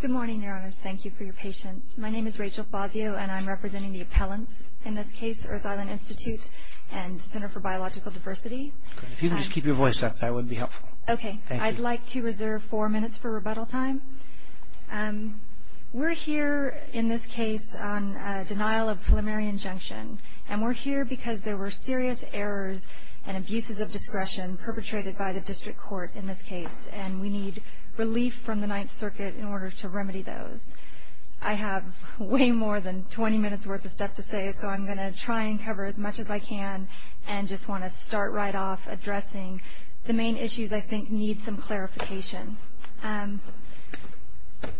Good morning, Your Honors. Thank you for your patience. My name is Rachel Fazio and I'm representing the appellants. In this case, Earth Island Institute and Center for Biological Diversity. If you could just keep your voice up, that would be helpful. Okay. I'd like to reserve four minutes for rebuttal time. We're here in this case on denial of preliminary injunction. And we're here because there were serious errors and by the district court in this case. And we need relief from the Ninth Circuit in order to remedy those. I have way more than 20 minutes worth of stuff to say, so I'm going to try and cover as much as I can and just want to start right off addressing the main issues I think need some clarification.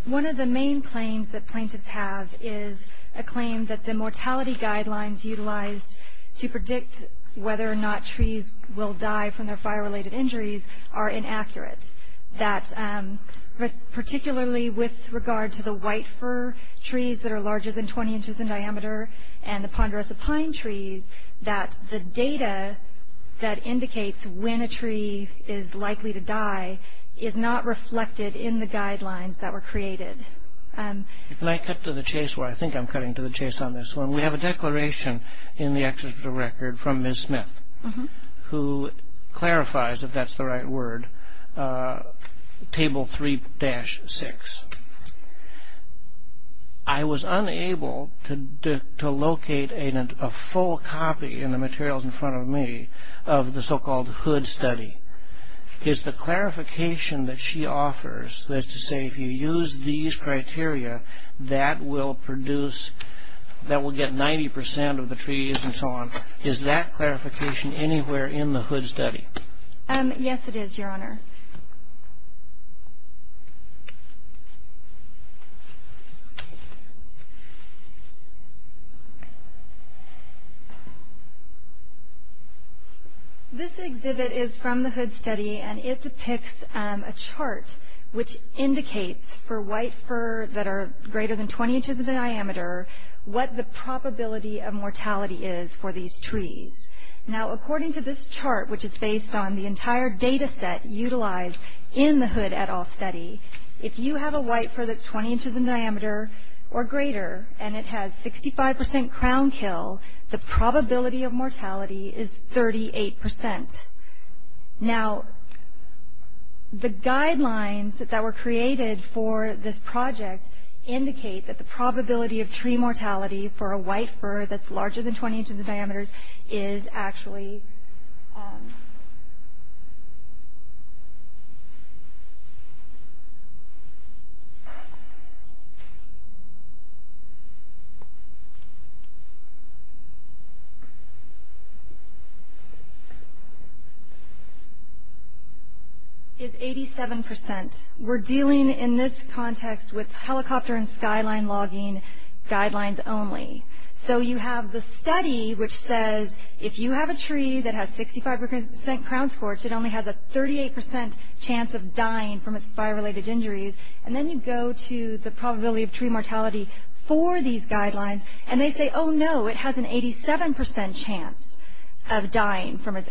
One of the main claims that plaintiffs have is a claim that the mortality guidelines utilized to predict whether or not trees will die from their fire-related injuries are inaccurate. That particularly with regard to the white fir trees that are larger than 20 inches in diameter and the ponderosa pine trees, that the data that indicates when a tree is likely to die is not reflected in the guidelines that were created. Can I cut to the chase? I think I'm cutting to the chase on this one. We have a declaration in the executive record from Ms. Smith who clarifies, if that's the right word, Table 3-6. I was unable to locate a full copy in the materials in front of me of the so-called Hood Study. The clarification that she offers is to say if you use these criteria that will produce, that will get 90% of the trees and so on, is that clarification anywhere in the Hood Study? Yes it is, Your Honor. This exhibit is from the Hood Study and it depicts a chart which indicates for white fir that's 20 inches in diameter what the probability of mortality is for these trees. Now according to this chart, which is based on the entire data set utilized in the Hood et al. study, if you have a white fir that's 20 inches in diameter or greater and it has 65% crown kill, the probability of mortality is 38%. Now the guidelines that were created for this project indicate that the probability of tree mortality for a white fir that's larger than 20 inches in diameter is actually, is 87%. We're dealing in terms of tree mortality in this context with helicopter and skyline logging guidelines only. So you have the study which says if you have a tree that has 65% crown scorch, it only has a 38% chance of dying from its fire-related injuries, and then you go to the probability of tree mortality for these guidelines and they say, oh no, it has an 87% chance of dying from its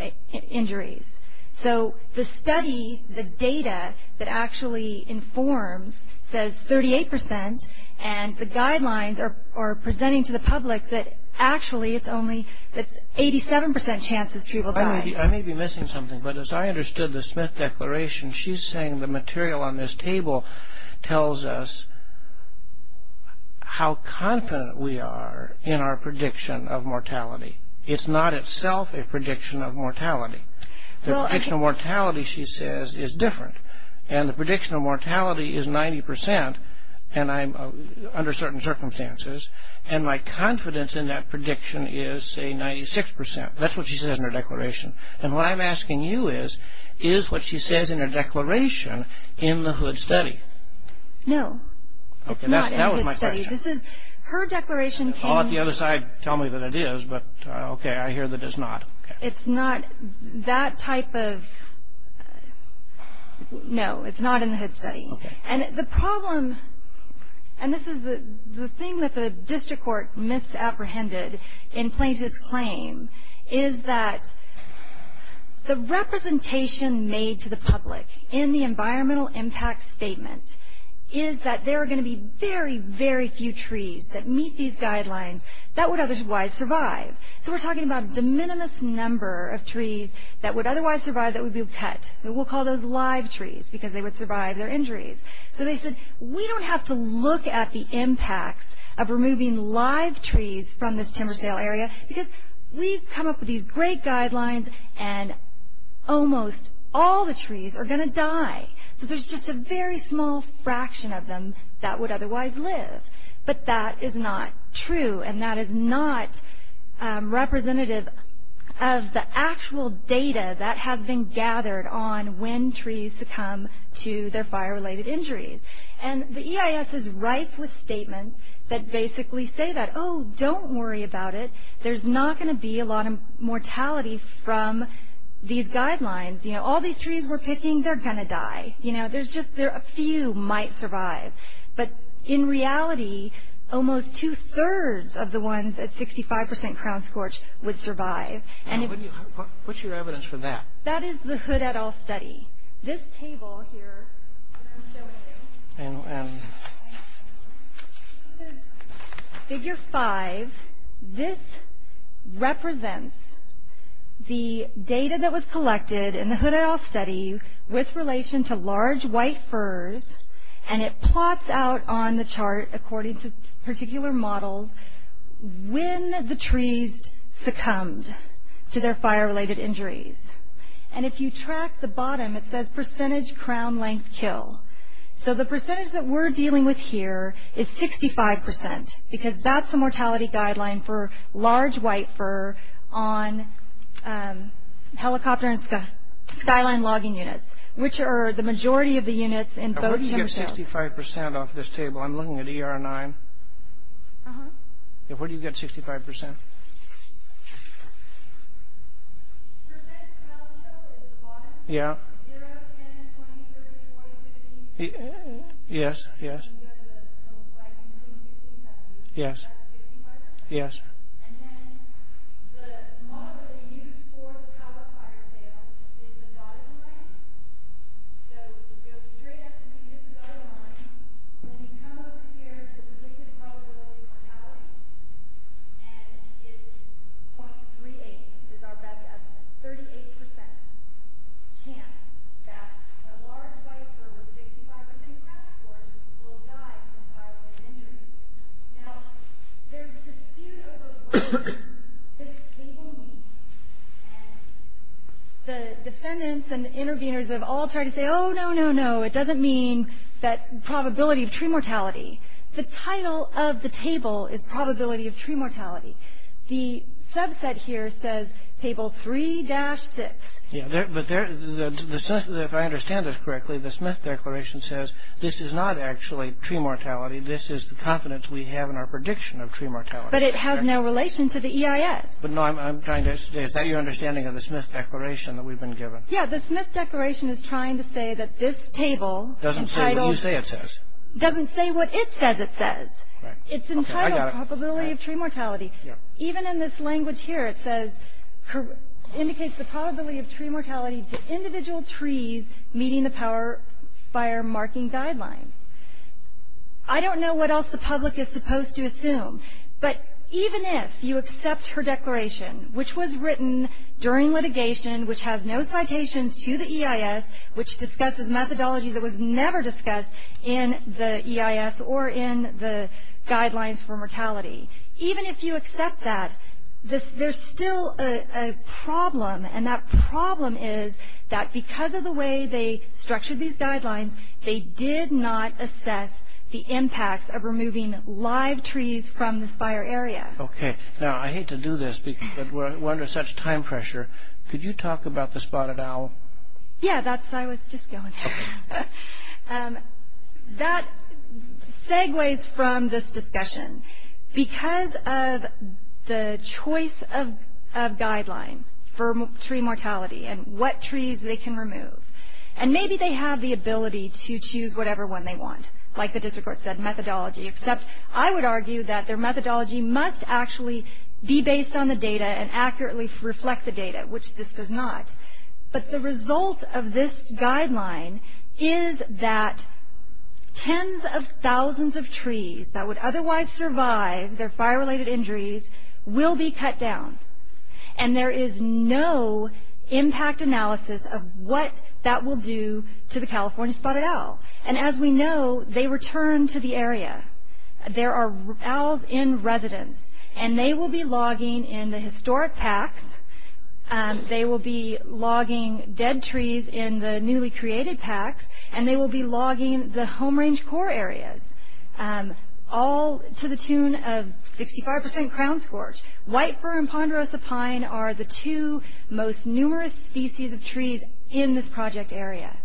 injuries. So the study, the data that actually informs says 38% and the guidelines are presenting to the public that actually it's only, it's 87% chance this tree will die. I may be missing something, but as I understood the Smith Declaration, she's saying the material on this table tells us how confident we are in our prediction of mortality. It's not itself a prediction of mortality. The prediction of mortality, she says, is different. And the prediction of mortality is 90% under certain circumstances, and my confidence in that prediction is say 96%. That's what she says in her declaration. And what I'm asking you is, is what she says in her declaration in the Hood Study? No, it's not in the Hood Study. This is, her declaration came... It's not that type of... No, it's not in the Hood Study. And the problem, and this is the thing that the district court misapprehended in Plaintiff's claim, is that the representation made to the public in the environmental impact statement is that there are going to be very, very few trees that meet these guidelines that would otherwise survive. So we're talking about a de minimis number of trees that would otherwise survive that would be cut. We'll call those live trees because they would survive their injuries. So they said, we don't have to look at the impacts of removing live trees from this timber sale area because we've come up with these great guidelines and almost all the trees are going to die. So there's just a very small fraction of them that would otherwise live. But that is not true, and that is not representative of the actual data that has been gathered on when trees succumb to their fire-related injuries. And the EIS is rife with statements that basically say that, oh, don't worry about it. There's not going to be a lot of mortality from these guidelines. All these trees we're picking, they're going to die. There's just... A few might survive. But in reality, almost two-thirds of the ones at 65% crown scorch would survive. What's your evidence for that? That is the Hood, et al. study. This table here that I'm showing you is figure 5. This represents the data that was collected in the Hood, et al. study with relation to large white firs, and it plots out on the chart according to particular models when the trees succumbed to their fire-related injuries. And if you track the bottom, it says percentage crown length kill. So the percentage that we're dealing with here is 65% because that's the mortality guideline for large white fir on helicopter and skyline logging units, which are the majority of the units in both timber sales. Now where do you get 65% off this table? I'm looking at ER-9. Where do you get 65%? Percentage crown kill is the bottom. Yeah. 0, 10, 20, 30, 40, 50, 50. Yes, yes. And then the model they use for the power fire sale is the bottom. And then the model they use for the power fire sale is the bottom line. So you go straight up to the bottom line, then you come over here to the predicted probability mortality, and it's 0.38, is our best estimate. Thirty-eight percent chance that a large white fir with 65% crown scores will die from fire-related injuries. Now, there's dispute over whether this table means. And the defendants and the interveners have all tried to say, oh, no, no, no, it doesn't mean that probability of tree mortality. The title of the table is probability of tree mortality. The subset here says table 3-6. Yeah, but the sense, if I understand this correctly, the Smith Declaration says this is not actually tree mortality. This is the confidence we have in our prediction of tree mortality. But it has no relation to the EIS. But no, I'm trying to understand. Is that your understanding of the Smith Declaration that we've been given? Yeah, the Smith Declaration is trying to say that this table doesn't say what it says it says. It's entitled probability of tree mortality. Even in this language here, it says indicates the probability of tree mortality to individual trees meeting the power fire marking guidelines. I don't know what else the public is supposed to assume. But even if you accept her declaration, which was written during litigation, which has no citations to the EIS, which discusses methodology that was never discussed in the EIS or in the guidelines for mortality, even if you accept that, there's still a problem. And that problem is that because of the way they structured these guidelines, they did not assess the impacts of removing live trees from this fire area. Okay. Now, I hate to do this because we're under such time pressure. Could you talk about the spotted owl? Yeah, I was just going there. That segues from this discussion. Because of the choice of guideline for tree mortality and what trees they can remove, and maybe they have the ability to choose whatever one they want, like the district court said, methodology, except I would argue that their methodology must actually be based on the data and accurately reflect the data, which this does not. But the result of this guideline is that tens of thousands of trees that would otherwise survive their fire-related injuries will be cut down. And there is no impact analysis of what that will do to the California spotted owl. And as we know, they return to the area. There are owls in residence. And they will be logging in the historic packs. They will be logging dead trees in the newly created packs. And they will be logging the home range core areas, all to the tune of 65% crown scorch. White fir and ponderosa pine are the two most numerous species of trees in this project area.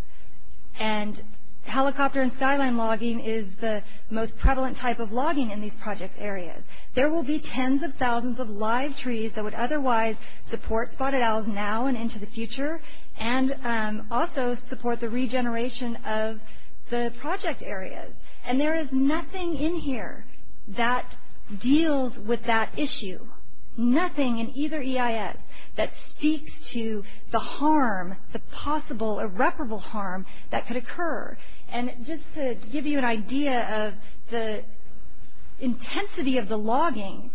And helicopter and skyline logging is the most prevalent type of logging in these project areas. There will be tens of thousands of live trees that would otherwise support spotted owls now and into the future, and also support the regeneration of the project areas. And there is nothing in here that deals with that issue. Nothing in either EIS that speaks to the harm, the possible irreparable harm that could occur. And just to give you an idea of the intensity of the logging,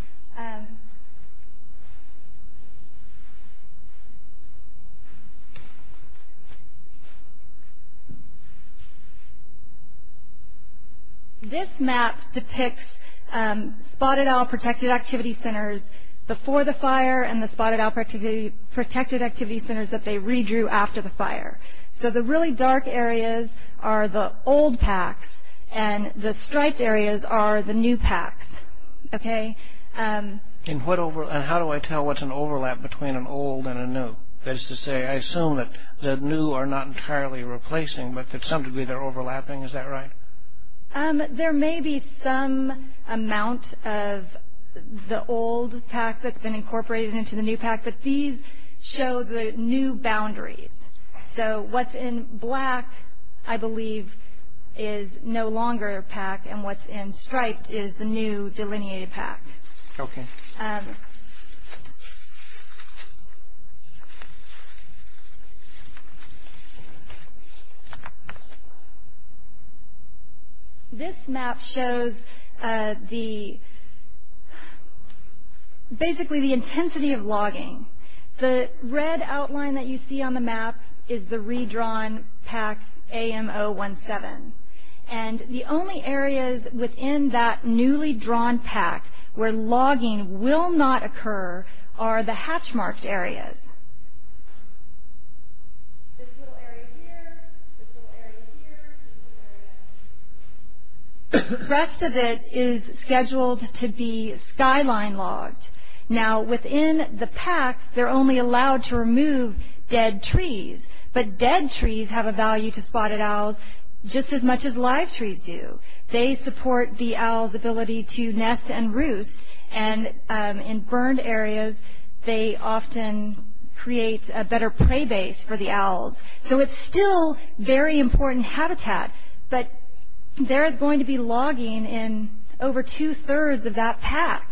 this map depicts spotted owl protected activity centers before the fire, and the spotted owl protected activity centers that they redrew after the fire. So the really dark areas are the old packs, and the striped areas are the new packs. Okay? And how do I tell what's an overlap between an old and a new? That is to say, I assume that the new are not entirely replacing, but to some degree they're overlapping. Is that right? There may be some amount of the old pack that's been incorporated into the new pack, but these show the new boundaries. So what's in black, I believe, is no longer a pack, and what's in striped is the new delineated pack. Okay. This map shows basically the intensity of logging. The red outline that you see on the map is the redrawn pack AM 017. And the only areas within that newly drawn pack where logging will not occur are the hatch marked areas. This little area here, this little area here, and this little area here. The rest of it is scheduled to be skyline logged. Now within the pack, they're only allowed to remove dead trees, but dead trees have a value to spotted owls just as much as live trees do. They support the owl's ability to nest and roost, and in burned areas they often create a better prey base for the owls. So it's still very important habitat, but there is going to be logging in over two-thirds of that pack.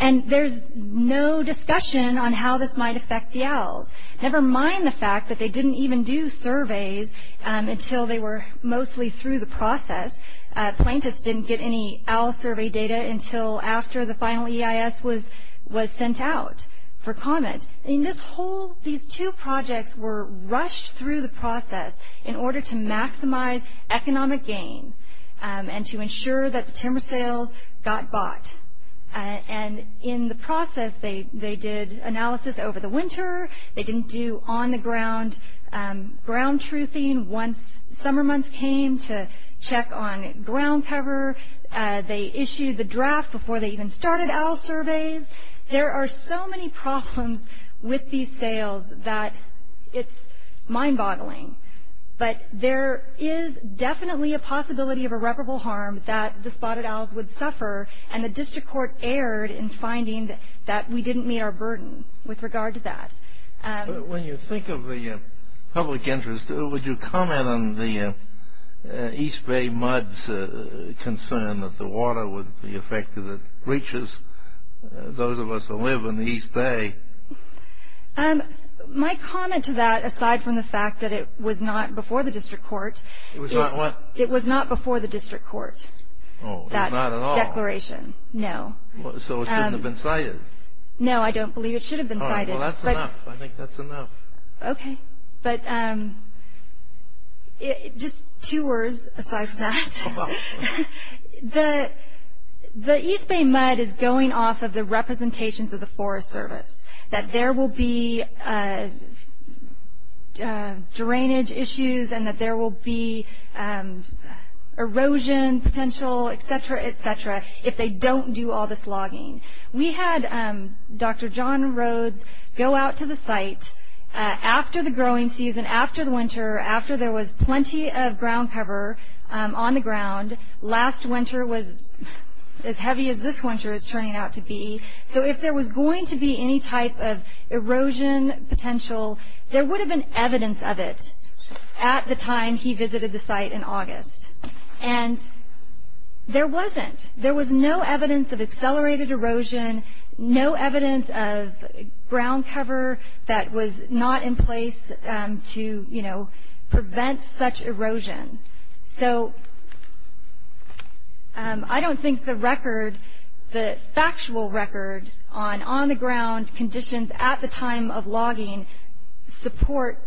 And there's no discussion on how this might affect the owls, never mind the fact that they didn't even do surveys until they were mostly through the process. Plaintiffs didn't get any owl survey data until after the final EIS was sent out for comment. These two projects were rushed through the process in order to maximize economic gain and to ensure that timber sales got bought. And in the process, they did analysis over the winter, they didn't do on-the-ground ground-truthing once summer months came to check on ground cover. They issued the draft before they even started owl surveys. There are so many problems with these sales that it's mind-boggling. But there is definitely a possibility of irreparable harm that the spotted owls would suffer, and the district court erred in finding that we didn't meet our burden with regard to that. When you think of the public interest, would you comment on the East Bay muds concern that the water would be affected, it breaches those of us who live in the East Bay? My comment to that, aside from the fact that it was not before the district court. It was not what? It was not before the district court. Oh, not at all. No. So it shouldn't have been cited. No, I don't believe it should have been cited. Well, that's enough. I think that's enough. Okay. But just two words aside from that. The East Bay mud is going off of the representations of the Forest Service, that there will be drainage issues and that there will be erosion potential, et cetera, et cetera, if they don't do all this logging. We had Dr. John Rhodes go out to the site after the growing season, after the winter, after there was plenty of ground cover on the ground. Last winter was as heavy as this winter is turning out to be. So if there was going to be any type of erosion potential, there would have been evidence of it at the time he visited the site in August. And there wasn't. There was no evidence of accelerated erosion, no evidence of ground cover that was not in place to prevent such erosion. So I don't think the record, the factual record on on-the-ground conditions at the time of logging support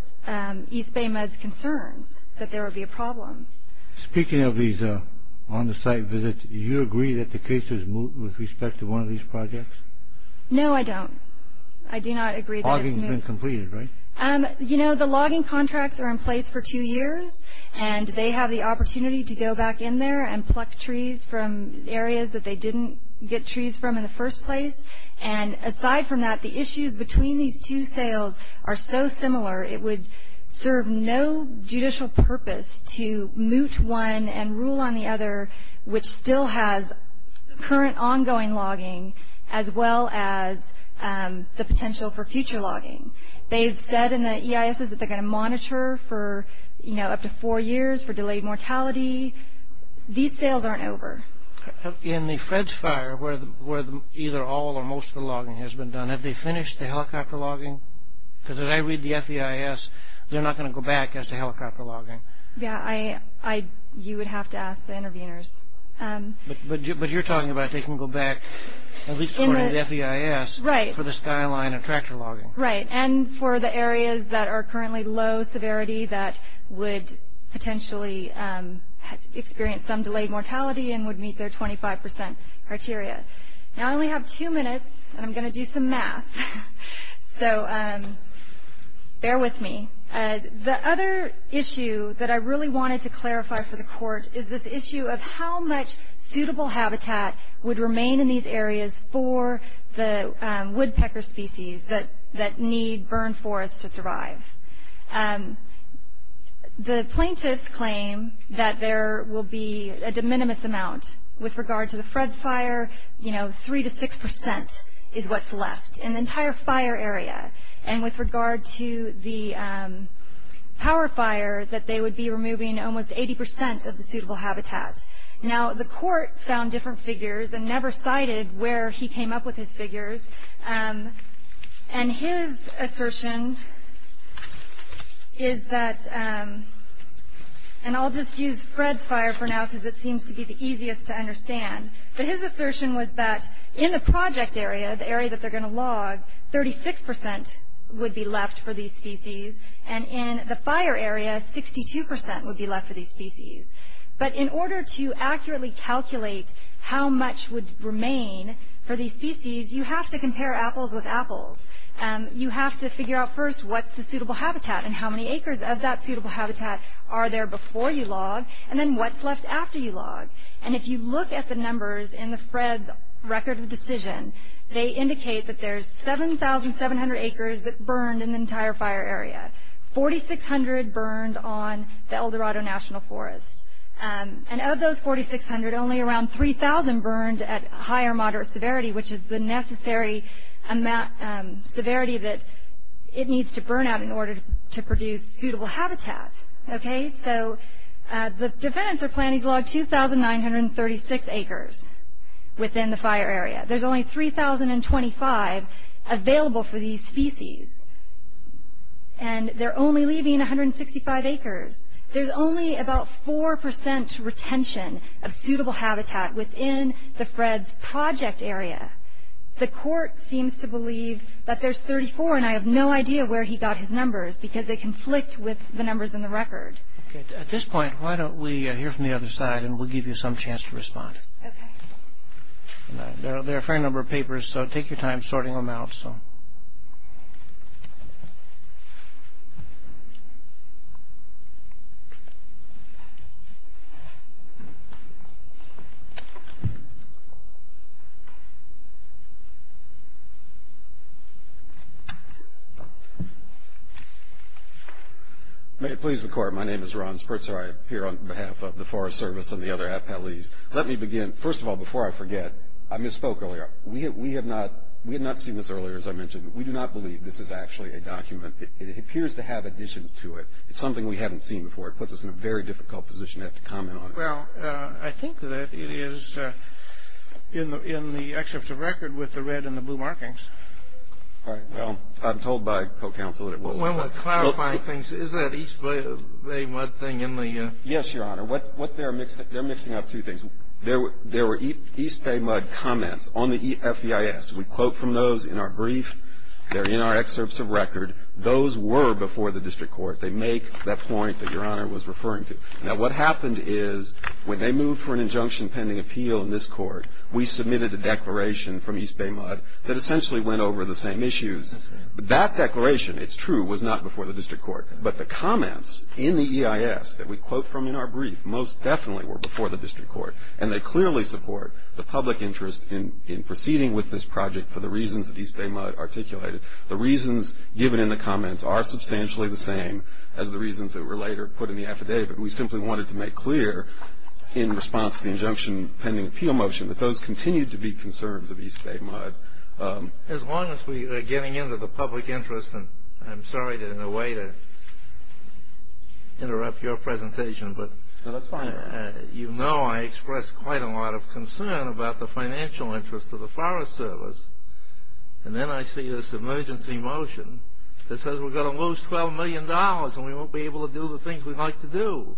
East Bay mud's concerns that there would be a problem. Speaking of these on-the-site visits, do you agree that the case has moved with respect to one of these projects? No, I don't. I do not agree that it's moved. Logging has been completed, right? You know, the logging contracts are in place for two years, and they have the opportunity to go back in there and pluck trees from areas that they didn't get trees from in the first place. And aside from that, the issues between these two sales are so similar, it would serve no judicial purpose to moot one and rule on the other, which still has current ongoing logging as well as the potential for future logging. They've said in the EISs that they're going to monitor for, you know, up to four years for delayed mortality. These sales aren't over. In the Fred's fire, where either all or most of the logging has been done, have they finished the helicopter logging? Because as I read the FEIS, they're not going to go back as to helicopter logging. Yeah, you would have to ask the interveners. But you're talking about they can go back, at least according to the FEIS, for the skyline and tractor logging. Right, and for the areas that are currently low severity that would potentially experience some delayed mortality and would meet their 25% criteria. Now I only have two minutes, and I'm going to do some math, so bear with me. The other issue that I really wanted to clarify for the court is this issue of how much suitable habitat would remain in these areas for the woodpecker species that need burn forests to survive. The plaintiffs claim that there will be a de minimis amount. With regard to the Fred's fire, you know, three to six percent is what's left in the entire fire area. And with regard to the power fire, that they would be removing almost 80% of the suitable habitat. Now the court found different figures and never cited where he came up with his figures. And his assertion is that, and I'll just use Fred's fire for now because it seems to be the easiest to understand, but his assertion was that in the project area, the area that they're going to log, 36% would be left for these species. And in the fire area, 62% would be left for these species. But in order to accurately calculate how much would remain for these forests, what's the suitable habitat? And how many acres of that suitable habitat are there before you log? And then what's left after you log? And if you look at the numbers in the Fred's record of decision, they indicate that there's 7,700 acres that burned in the entire fire area. 4,600 burned on the El Dorado National Forest. And of those 4,600, only around 3,000 burned at high or moderate severity, which is the necessary severity that it needs to burn out in order to produce suitable habitat. So the defendants are planning to log 2,936 acres within the fire area. There's only 3,025 available for these species. And they're only leaving 165 acres. There's only about 4% retention of suitable habitat within the Fred's project area. The court seems to believe that there's 34, and I have no idea where he got his numbers because they conflict with the numbers in the record. Okay. At this point, why don't we hear from the other side and we'll give you some chance to respond. Okay. There are a fair number of papers, so take your time sorting them out. May it please the court. My name is Ron Spurtzer. I'm here on behalf of the Forest Service and the other appellees. Let me begin. First of all, before I forget, I misspoke earlier. We have not seen this earlier, as I mentioned. We do not believe this is actually a document. It appears to have additions to it. It's something we haven't seen before. It puts us in a very difficult position to have to comment on it. Well, I think that it is in the excerpts of record with the red and the blue markings. All right. Well, I'm told by co-counsel that it was. When we're clarifying things, is that East Bay mud thing in the Yes, Your Honor. What they're mixing up two things. There were East Bay mud comments on the FEIS. We quote from those in our brief. They're in our excerpts of record. Those were before the district court. They make that point that Your Honor was referring to. Now, what happened is when they moved for an injunction pending appeal in this court, we submitted a declaration from East Bay mud that essentially went over the same issues. That declaration, it's true, was not before the district court. But the comments in the EIS that we quote from in our brief most definitely were before the district court. And they clearly support the public interest in proceeding with this project for the reasons that East Bay mud articulated. The reasons given in the comments are substantially the same as the reasons that were later put in the affidavit. We simply wanted to make clear in response to the injunction pending appeal motion that those continue to be concerns of East Bay mud. As long as we are getting into the public interest, and I'm sorry in a way to interrupt your presentation, but you know I express quite a lot of concern about the financial interest of the Forest Service. And then I see this emergency motion that says we're going to lose $12 million and we won't be able to do the things we'd like to do.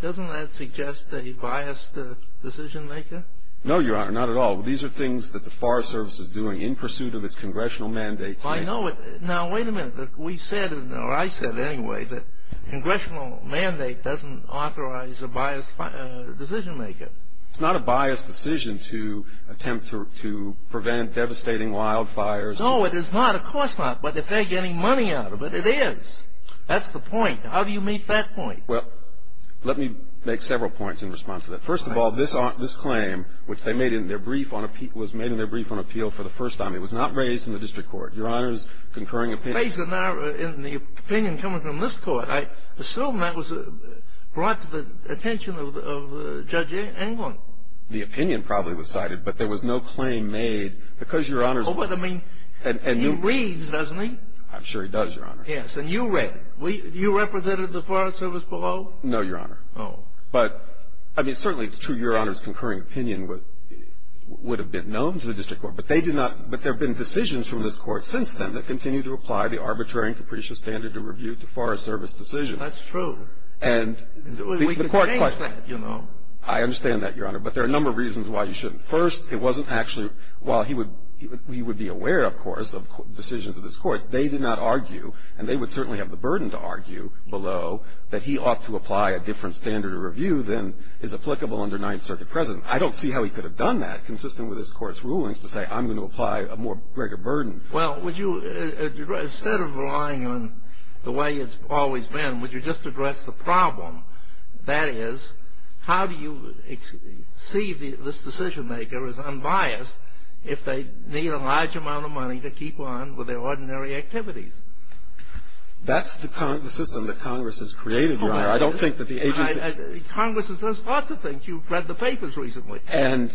Doesn't that suggest a biased decision maker? No, Your Honor, not at all. These are things that the Forest Service is doing in pursuit of its congressional mandates. I know it. Now, wait a minute. We said, or I said anyway, that congressional mandate doesn't authorize a biased decision maker. It's not a biased decision to attempt to prevent devastating wildfires. No, it is not. Of course not. But if they're getting money out of it, it is. That's the point. How do you meet that point? Well, let me make several points in response to that. First of all, this claim, which they made in their brief on appeal, was made in their brief on appeal for the first time. It was not raised in the district court. Your Honor's concurring opinion. Raised in the opinion coming from this court. I assume that was brought to the attention of Judge Englund. The opinion probably was cited, but there was no claim made because, Your Honor. Oh, but, I mean, he reads, doesn't he? I'm sure he does, Your Honor. Yes, and you read it. You represented the Forest Service below? No, Your Honor. Oh. But, I mean, certainly it's true Your Honor's concurring opinion would have been known to the district court, but they did not – but there have been decisions from this Court since then that continue to apply the arbitrary and capricious standard of rebuke to Forest Service decisions. That's true. And we can change that, you know. I understand that, Your Honor. But there are a number of reasons why you shouldn't. First, it wasn't actually – while he would be aware, of course, of decisions of this Court, they did not argue, and they would certainly have the burden to argue, below, that he ought to apply a different standard of review than is applicable under Ninth Circuit precedent. I don't see how he could have done that, consistent with this Court's rulings, to say, I'm going to apply a more greater burden. Well, would you – instead of relying on the way it's always been, would you just address the problem? That is, how do you see this decision-maker as unbiased if they need a large amount of money to keep on with their ordinary activities? That's the system that Congress has created, Your Honor. I don't think that the agency – Congress has done lots of things. You've read the papers recently. And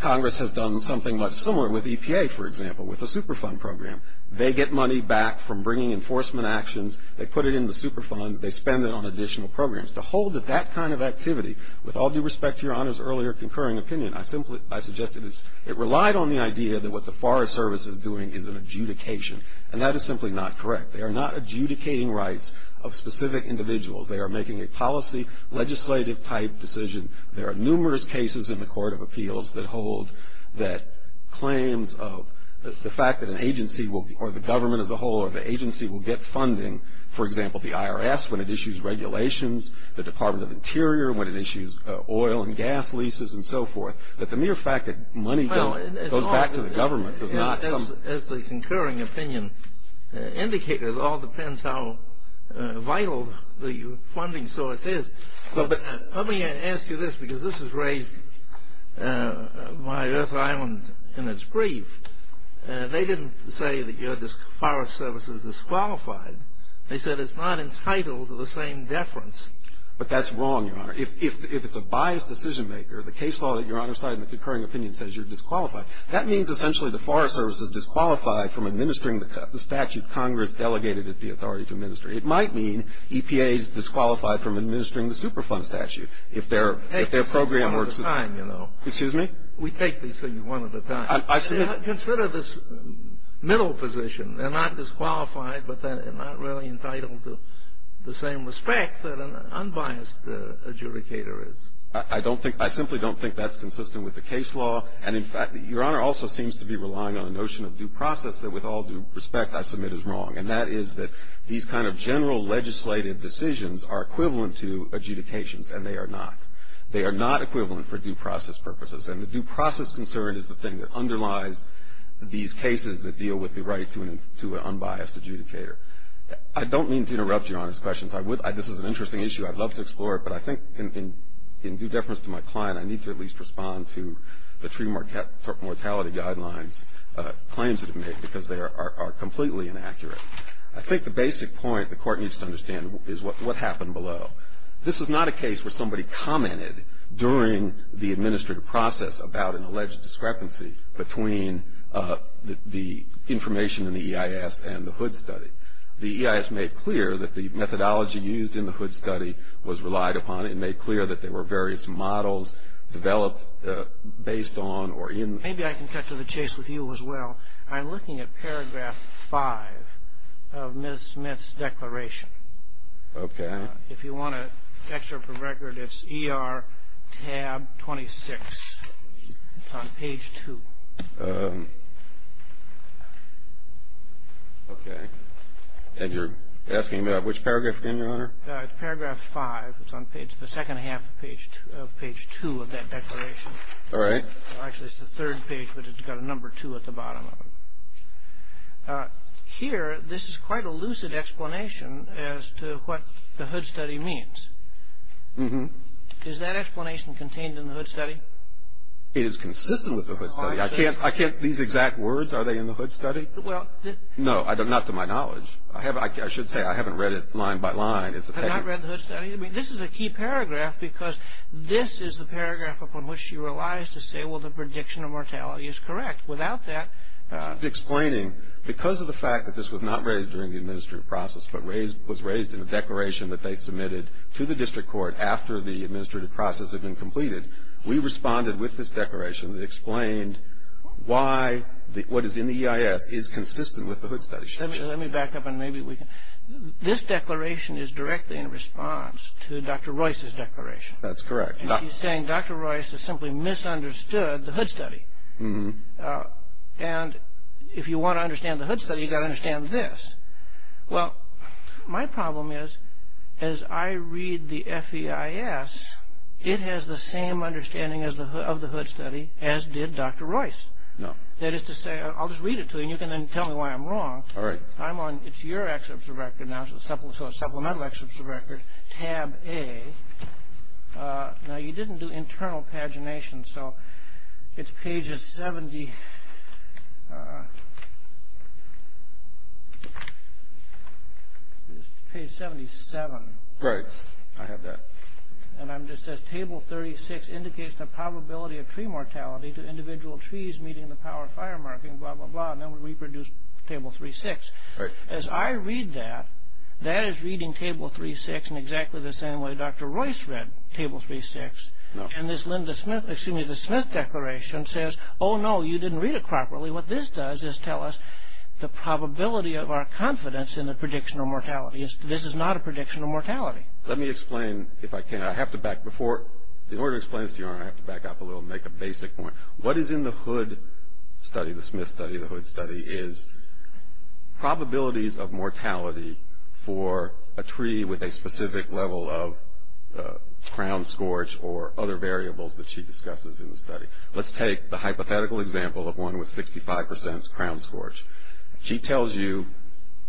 Congress has done something much similar with EPA, for example, with the Superfund program. They get money back from bringing enforcement actions. They put it in the Superfund. They spend it on additional programs. To hold that that kind of activity, with all due respect to Your Honor's earlier concurring opinion, I simply – I suggested it's – it relied on the idea that what the Forest Service is doing is an adjudication. And that is simply not correct. They are not adjudicating rights of specific individuals. They are making a policy, legislative-type decision. There are numerous cases in the Court of Appeals that hold that claims of the fact that an agency will – or the government as a whole or the agency will get funding, for example, the IRS when it issues regulations, the Department of Interior when it issues oil and gas leases and so forth. But the mere fact that money goes back to the government does not – As the concurring opinion indicated, it all depends how vital the funding source is. But let me ask you this, because this has raised my Earth Island in its grief. They didn't say that your Forest Service is disqualified. They said it's not entitled to the same deference. But that's wrong, Your Honor. If it's a biased decision-maker, the case law that Your Honor cited in the concurring opinion says you're disqualified, that means essentially the Forest Service is disqualified from administering the statute Congress delegated it the authority to administer. It might mean EPA is disqualified from administering the Superfund statute if their program works. Excuse me? We take these things one at a time. Consider this middle position. They're not disqualified, but they're not really entitled to the same respect that an unbiased adjudicator is. I don't think – I simply don't think that's consistent with the case law. And, in fact, Your Honor also seems to be relying on a notion of due process that, with all due respect, I submit is wrong. And that is that these kind of general legislative decisions are equivalent to adjudications, and they are not. They are not equivalent for due process purposes. And the due process concern is the thing that underlies these cases that deal with the right to an unbiased adjudicator. I don't mean to interrupt Your Honor's questions. This is an interesting issue. I'd love to explore it. But I think in due deference to my client, I need to at least respond to the treatment mortality guidelines claims that it made because they are completely inaccurate. I think the basic point the Court needs to understand is what happened below. This is not a case where somebody commented during the administrative process about an alleged discrepancy between the information in the EIS and the Hood Study. The EIS made clear that the methodology used in the Hood Study was relied upon. It made clear that there were various models developed based on or in. Maybe I can cut to the chase with you as well. I'm looking at paragraph 5 of Ms. Smith's declaration. Okay. If you want to check your record, it's ER tab 26. It's on page 2. Okay. And you're asking me about which paragraph again, Your Honor? It's paragraph 5. It's on page the second half of page 2 of that declaration. All right. Actually, it's the third page, but it's got a number 2 at the bottom of it. Here, this is quite a lucid explanation as to what the Hood Study means. It is consistent with the Hood Study. These exact words, are they in the Hood Study? No, not to my knowledge. I should say I haven't read it line by line. You have not read the Hood Study? I mean, this is a key paragraph because this is the paragraph upon which she relies to say, well, the prediction of mortality is correct. Without that. It's explaining because of the fact that this was not raised during the administrative process, but was raised in a declaration that they submitted to the district court after the administrative process had been completed, we responded with this declaration that explained why what is in the EIS is consistent with the Hood Study. Let me back up and maybe we can. This declaration is directly in response to Dr. Royce's declaration. That's correct. And she's saying Dr. Royce has simply misunderstood the Hood Study. And if you want to understand the Hood Study, you've got to understand this. Well, my problem is, as I read the FEIS, it has the same understanding of the Hood Study as did Dr. Royce. No. That is to say, I'll just read it to you and you can then tell me why I'm wrong. All right. I'm on, it's your excerpts of record now, so supplemental excerpts of record, tab A. Now, you didn't do internal pagination, so it's pages 70, page 77. Right. I have that. And it says table 36 indicates the probability of tree mortality to individual trees meeting the power of fire marking, blah, blah, blah, and then we reproduce table 36. Right. And as I read that, that is reading table 36 in exactly the same way Dr. Royce read table 36. No. And this Linda Smith, excuse me, the Smith Declaration says, oh, no, you didn't read it properly. What this does is tell us the probability of our confidence in the prediction of mortality. This is not a prediction of mortality. Let me explain, if I can. I have to back before, in order to explain this to you, I have to back up a little and make a basic point. What is in the Hood study, the Smith study, the Hood study, is probabilities of mortality for a tree with a specific level of crown scorch or other variables that she discusses in the study. Let's take the hypothetical example of one with 65 percent crown scorch. She tells you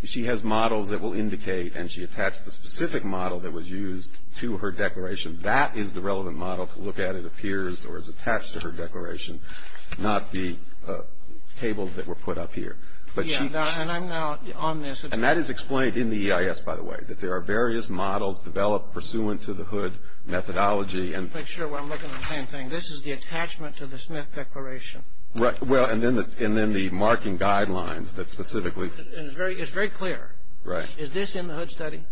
she has models that will indicate, and she attached the specific model that was used to her declaration. That is the relevant model to look at, it appears, or is attached to her declaration, not the tables that were put up here. Yeah, and I'm now on this. And that is explained in the EIS, by the way, that there are various models developed pursuant to the Hood methodology. Make sure while I'm looking at the same thing. This is the attachment to the Smith Declaration. Right. Well, and then the marking guidelines that specifically. It's very clear. Right. Is this in the Hood study?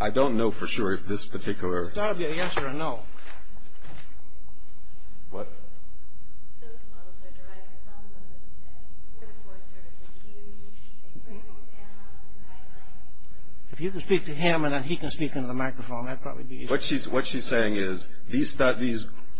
I don't know for sure if this particular. That would be an answer to no. What? If you can speak to him and then he can speak into the microphone, that would probably be easier. What she's saying is these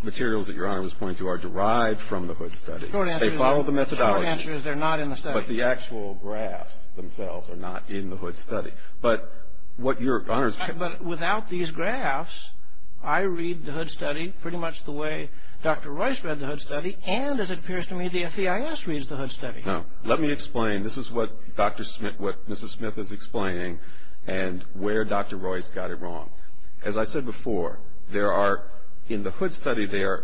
materials that Your Honor was pointing to are derived from the Hood study. The short answer is. They follow the methodology. The short answer is they're not in the study. But the actual graphs themselves are not in the Hood study. But what Your Honor's. But without these graphs, I read the Hood study pretty much the way Dr. Royce read the Hood study. And as it appears to me, the FEIS reads the Hood study. No. Let me explain. This is what Dr. Smith, what Mrs. Smith is explaining and where Dr. Royce got it wrong. As I said before, there are, in the Hood study, they are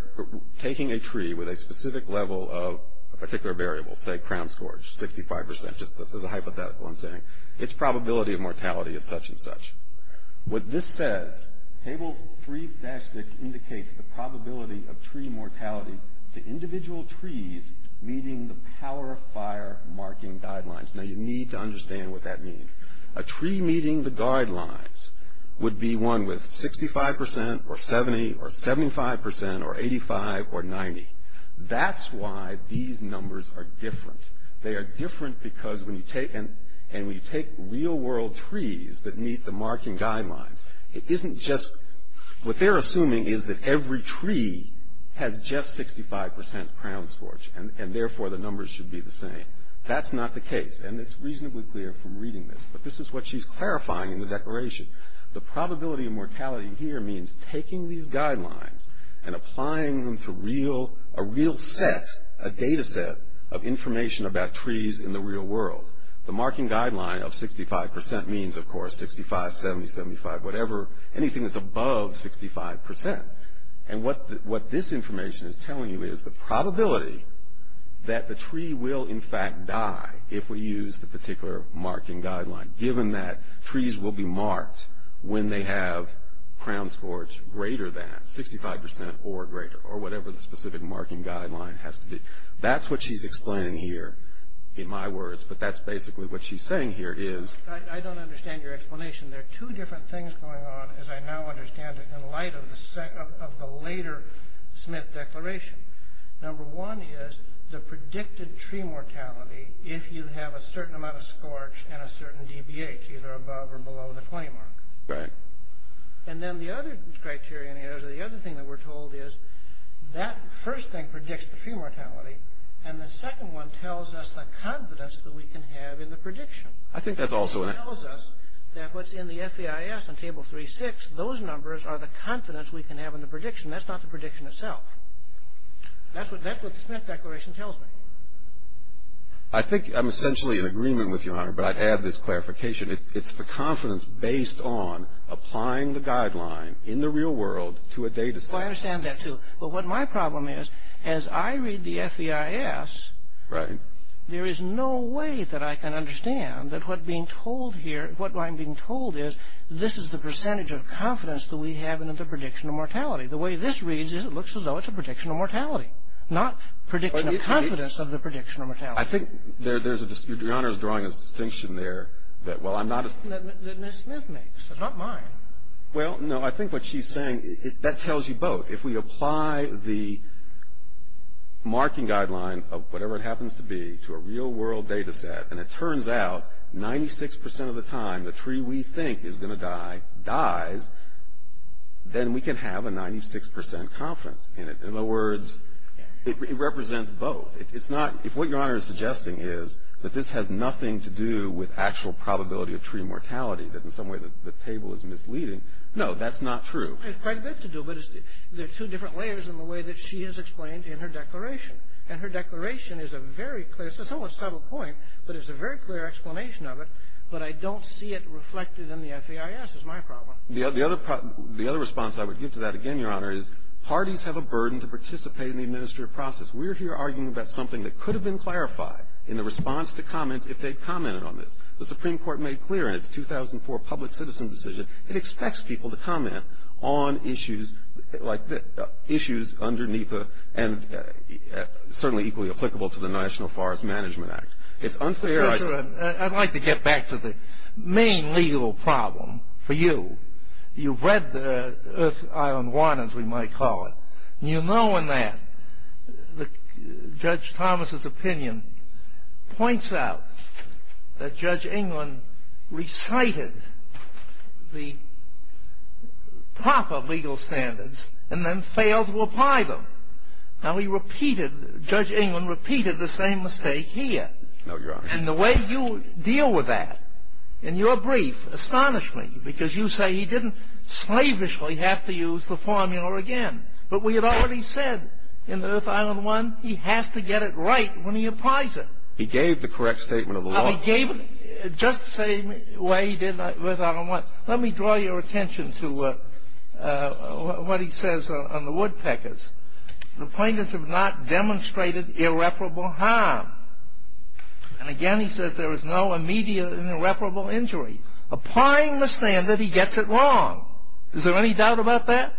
taking a tree with a specific level of a particular variable, say crown scorch, 65 percent. Just as a hypothetical, I'm saying. Its probability of mortality is such and such. What this says, table 3-6 indicates the probability of tree mortality to individual trees meeting the power of fire marking guidelines. Now, you need to understand what that means. A tree meeting the guidelines would be one with 65 percent or 70 or 75 percent or 85 or 90. That's why these numbers are different. They are different because when you take, and when you take real world trees that meet the marking guidelines, it isn't just, what they're assuming is that every tree has just 65 percent crown scorch. And therefore, the numbers should be the same. That's not the case. And it's reasonably clear from reading this. But this is what she's clarifying in the declaration. The probability of mortality here means taking these guidelines and applying them to real, a real set, a data set of information about trees in the real world. The marking guideline of 65 percent means, of course, 65, 70, 75, whatever, anything that's above 65 percent. And what this information is telling you is the probability that the tree will, in fact, die if we use the particular marking guideline, given that trees will be marked when they have crown scorch greater than 65 percent or greater, or whatever the specific marking guideline has to be. That's what she's explaining here, in my words. But that's basically what she's saying here is. I don't understand your explanation. There are two different things going on, as I now understand it, in light of the later Smith declaration. Number one is the predicted tree mortality if you have a certain amount of scorch and a certain DBH, either above or below the 20 mark. Right. And then the other criterion is, or the other thing that we're told is, that first thing predicts the tree mortality, and the second one tells us the confidence that we can have in the prediction. I think that's also an... It tells us that what's in the FEIS on Table 3-6, those numbers are the confidence we can have in the prediction. That's not the prediction itself. That's what the Smith declaration tells me. I think I'm essentially in agreement with you, Honor, but I'd add this clarification. It's the confidence based on applying the guideline in the real world to a data set. Well, I understand that, too. But what my problem is, as I read the FEIS... Right. There is no way that I can understand that what being told here, what I'm being told is, this is the percentage of confidence that we have in the prediction of mortality. The way this reads is it looks as though it's a prediction of mortality, not prediction of confidence of the prediction of mortality. I think there's a... Your Honor is drawing a distinction there that, well, I'm not... That Ms. Smith makes. It's not mine. Well, no. I think what she's saying, that tells you both. If we apply the marking guideline of whatever it happens to be to a real world data set, and it turns out 96% of the time the tree we think is going to die dies, then we can have a 96% confidence in it. In other words, it represents both. It's not... If what Your Honor is suggesting is that this has nothing to do with actual probability of tree mortality, that in some way the table is misleading, no, that's not true. It's quite a bit to do, but it's the two different layers in the way that she has explained in her declaration. And her declaration is a very clear... It's almost a subtle point, but it's a very clear explanation of it, but I don't see it reflected in the FAIS is my problem. The other response I would give to that, again, Your Honor, is parties have a burden to participate in the administrative process. We're here arguing about something that could have been clarified in the response to comments if they'd commented on this. The Supreme Court made clear in its 2004 public citizen decision it expects people to comment on issues like the... issues underneath the... and certainly equally applicable to the National Forest Management Act. It's unfair... I'd like to get back to the main legal problem for you. You've read the Earth Island 1, as we might call it. You know in that Judge Thomas's opinion points out that Judge England recited the proper legal standards and then failed to apply them. Now, he repeated... Judge England repeated the same mistake here. No, Your Honor. And the way you deal with that in your brief astonished me because you say he didn't slavishly have to use the formula again. But we had already said in Earth Island 1 he has to get it right when he applies it. He gave the correct statement of the law. He gave it just the same way he did in Earth Island 1. Let me draw your attention to what he says on the woodpeckers. The plaintiffs have not demonstrated irreparable harm. And again, he says there is no immediate and irreparable injury. Applying the standard, he gets it wrong. Is there any doubt about that?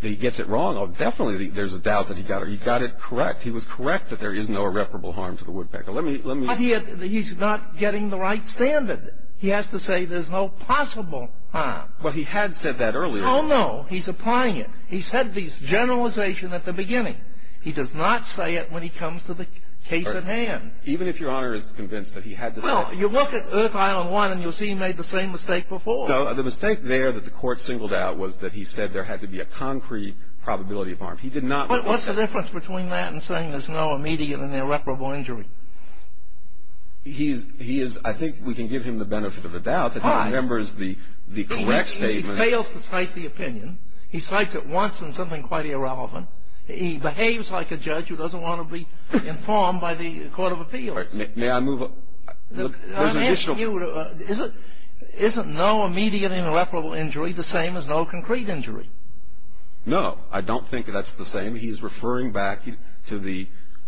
He gets it wrong. Definitely there's a doubt that he got it correct. He was correct that there is no irreparable harm to the woodpecker. Let me... But he's not getting the right standard. He has to say there's no possible harm. Well, he had said that earlier. No, no. He's applying it. He said the generalization at the beginning. He does not say it when he comes to the case at hand. Even if Your Honor is convinced that he had to say... Well, you look at Earth Island 1 and you'll see he made the same mistake before. The mistake there that the Court singled out was that he said there had to be a concrete probability of harm. He did not... But what's the difference between that and saying there's no immediate and irreparable injury? He is... I think we can give him the benefit of the doubt that he remembers the correct statement. He fails to cite the opinion. He cites it once in something quite irrelevant. He behaves like a judge who doesn't want to be informed by the Court of Appeals. May I move... Isn't no immediate and irreparable injury the same as no concrete injury? No. I don't think that's the same. He's referring back to the...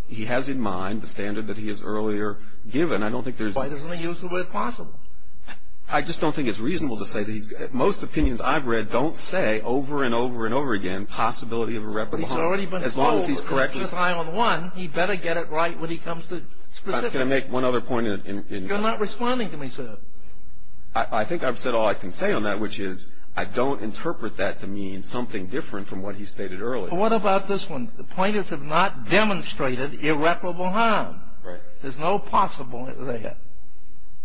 He has in mind the standard that he has earlier given. I don't think there's... Why doesn't he use the word possible? I just don't think it's reasonable to say that he's... Most opinions I've read don't say over and over and over again possibility of irreparable harm. He's already been told in Earth Island 1 he better get it right when he comes to specifics. Can I make one other point in... You're not responding to me, sir. I think I've said all I can say on that, which is I don't interpret that to mean something different from what he stated earlier. What about this one? The plaintiffs have not demonstrated irreparable harm. Right. There's no possible there.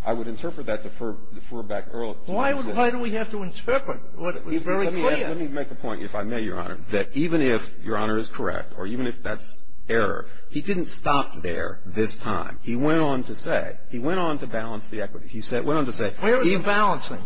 I would interpret that to refer back earlier. Why do we have to interpret what was very clear? Let me make a point, if I may, Your Honor, that even if Your Honor is correct or even if that's error, he didn't stop there this time. He went on to say, he went on to balance the equity. He went on to say... Where is the balancing?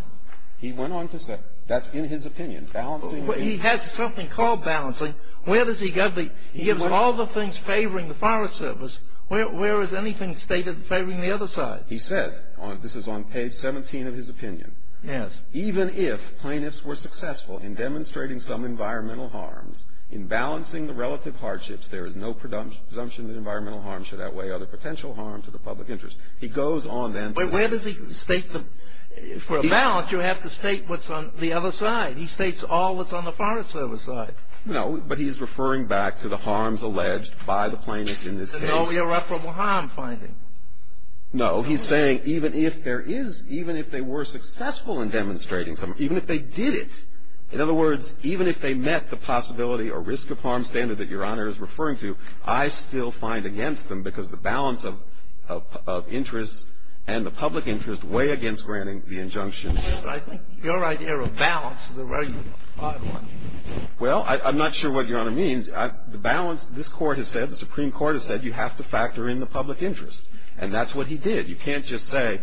He went on to say, that's in his opinion, balancing... He has something called balancing. Where does he get the... He gives all the things favoring the Forest Service. Where is anything stated favoring the other side? He says, this is on page 17 of his opinion. Yes. Even if plaintiffs were successful in demonstrating some environmental harms, in balancing the relative hardships, there is no presumption that environmental harm should outweigh other potential harm to the public interest. He goes on then... But where does he state the... For a balance, you have to state what's on the other side. He states all that's on the Forest Service side. No. But he's referring back to the harms alleged by the plaintiffs in this case. An irreparable harm finding. No. He's saying even if there is, even if they were successful in demonstrating some, even if they did it, in other words, even if they met the possibility or risk of harm standard that Your Honor is referring to, I still find against them because the balance of interests and the public interest weigh against granting the injunction. But I think your idea of balance is a very odd one. Well, I'm not sure what Your Honor means. The balance, this Court has said, the Supreme Court has said, you have to factor in the public interest. And that's what he did. You can't just say,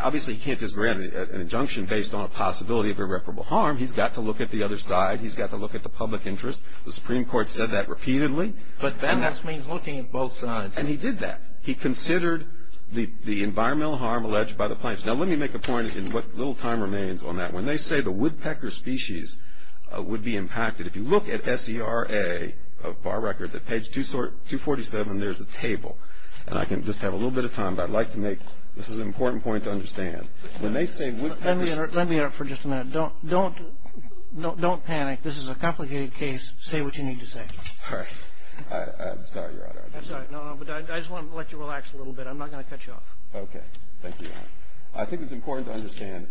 obviously he can't just grant an injunction based on a possibility of irreparable harm. He's got to look at the other side. He's got to look at the public interest. The Supreme Court said that repeatedly. But balance means looking at both sides. And he did that. He considered the environmental harm alleged by the plaintiffs. Now, let me make a point in what little time remains on that. When they say the woodpecker species would be impacted, if you look at SERA, Bar Records, at page 247, there's a table. And I can just have a little bit of time, but I'd like to make, this is an important point to understand. Let me interrupt for just a minute. Don't panic. This is a complicated case. Say what you need to say. All right. I'm sorry, Your Honor. I'm sorry. No, no. But I just want to let you relax a little bit. I'm not going to cut you off. Okay. Thank you, Your Honor. I think it's important to understand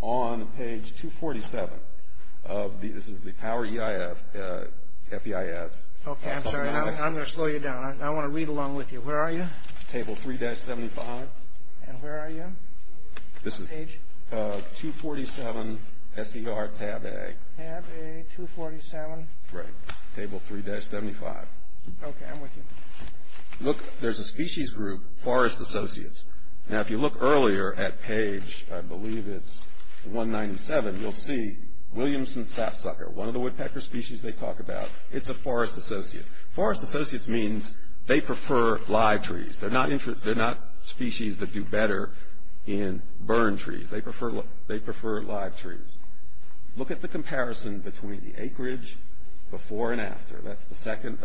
on page 247 of the, this is the Power EIF, FEIS. Okay, I'm sorry. I'm going to slow you down. I want to read along with you. Where are you? Table 3-75. And where are you? Page? 247, SER, tab A. Tab A, 247. Right. Table 3-75. Okay, I'm with you. Look, there's a species group, Forest Associates. Now, if you look earlier at page, I believe it's 197, you'll see Williamson Sapsucker, one of the woodpecker species they talk about. It's a Forest Associate. Forest Associates means they prefer live trees. They're not species that do better in burned trees. They prefer live trees. Look at the comparison between the acreage before and after. That's the second,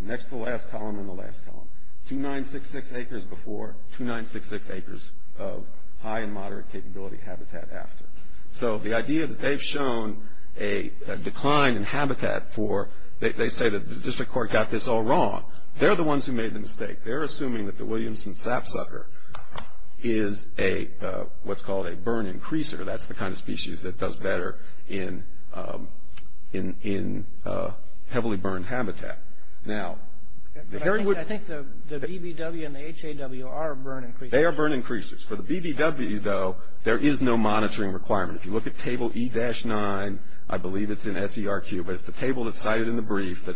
next to the last column and the last column. 2966 acres before, 2966 acres of high and moderate capability habitat after. So the idea that they've shown a decline in habitat for, they say that the district court got this all wrong. They're the ones who made the mistake. They're assuming that the Williamson Sapsucker is a, what's called a burn increaser. That's the kind of species that does better in heavily burned habitat. Now, the Herringwood. I think the BBW and the HAW are burn increasers. They are burn increasers. For the BBW, though, there is no monitoring requirement. If you look at table E-9, I believe it's in SERQ, but it's the table that's cited in the brief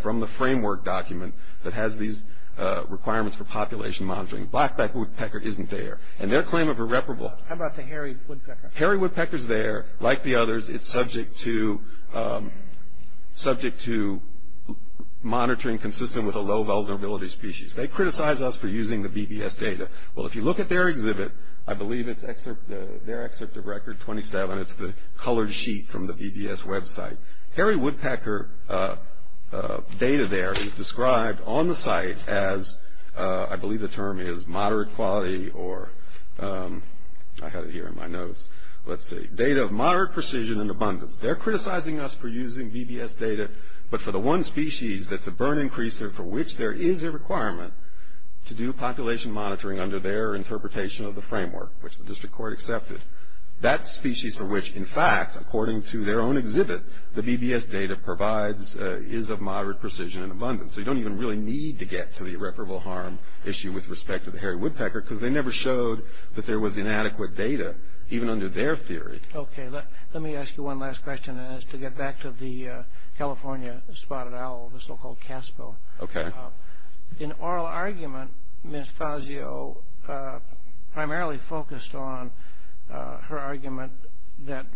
from the framework document that has these requirements for population monitoring. Blackback Woodpecker isn't there, and their claim of irreparable. How about the Herringwood Pecker? Herringwood Pecker's there. Like the others, it's subject to monitoring consistent with a low vulnerability species. They criticize us for using the BBS data. Well, if you look at their exhibit, I believe it's their excerpt of record 27. It's the colored sheet from the BBS website. Herringwood Pecker data there is described on the site as, I believe the term is moderate quality or I had it here in my notes. Let's see. Data of moderate precision and abundance. They're criticizing us for using BBS data, but for the one species that's a burn increaser for which there is a requirement to do population monitoring under their interpretation of the framework, which the district court accepted. That species for which, in fact, according to their own exhibit, the BBS data provides is of moderate precision and abundance. So you don't even really need to get to the irreparable harm issue with respect to the Herringwood Pecker because they never showed that there was inadequate data even under their theory. Okay. Let me ask you one last question, and that's to get back to the California spotted owl, the so-called CASPO. Okay. In oral argument, Ms. Fazio primarily focused on her argument that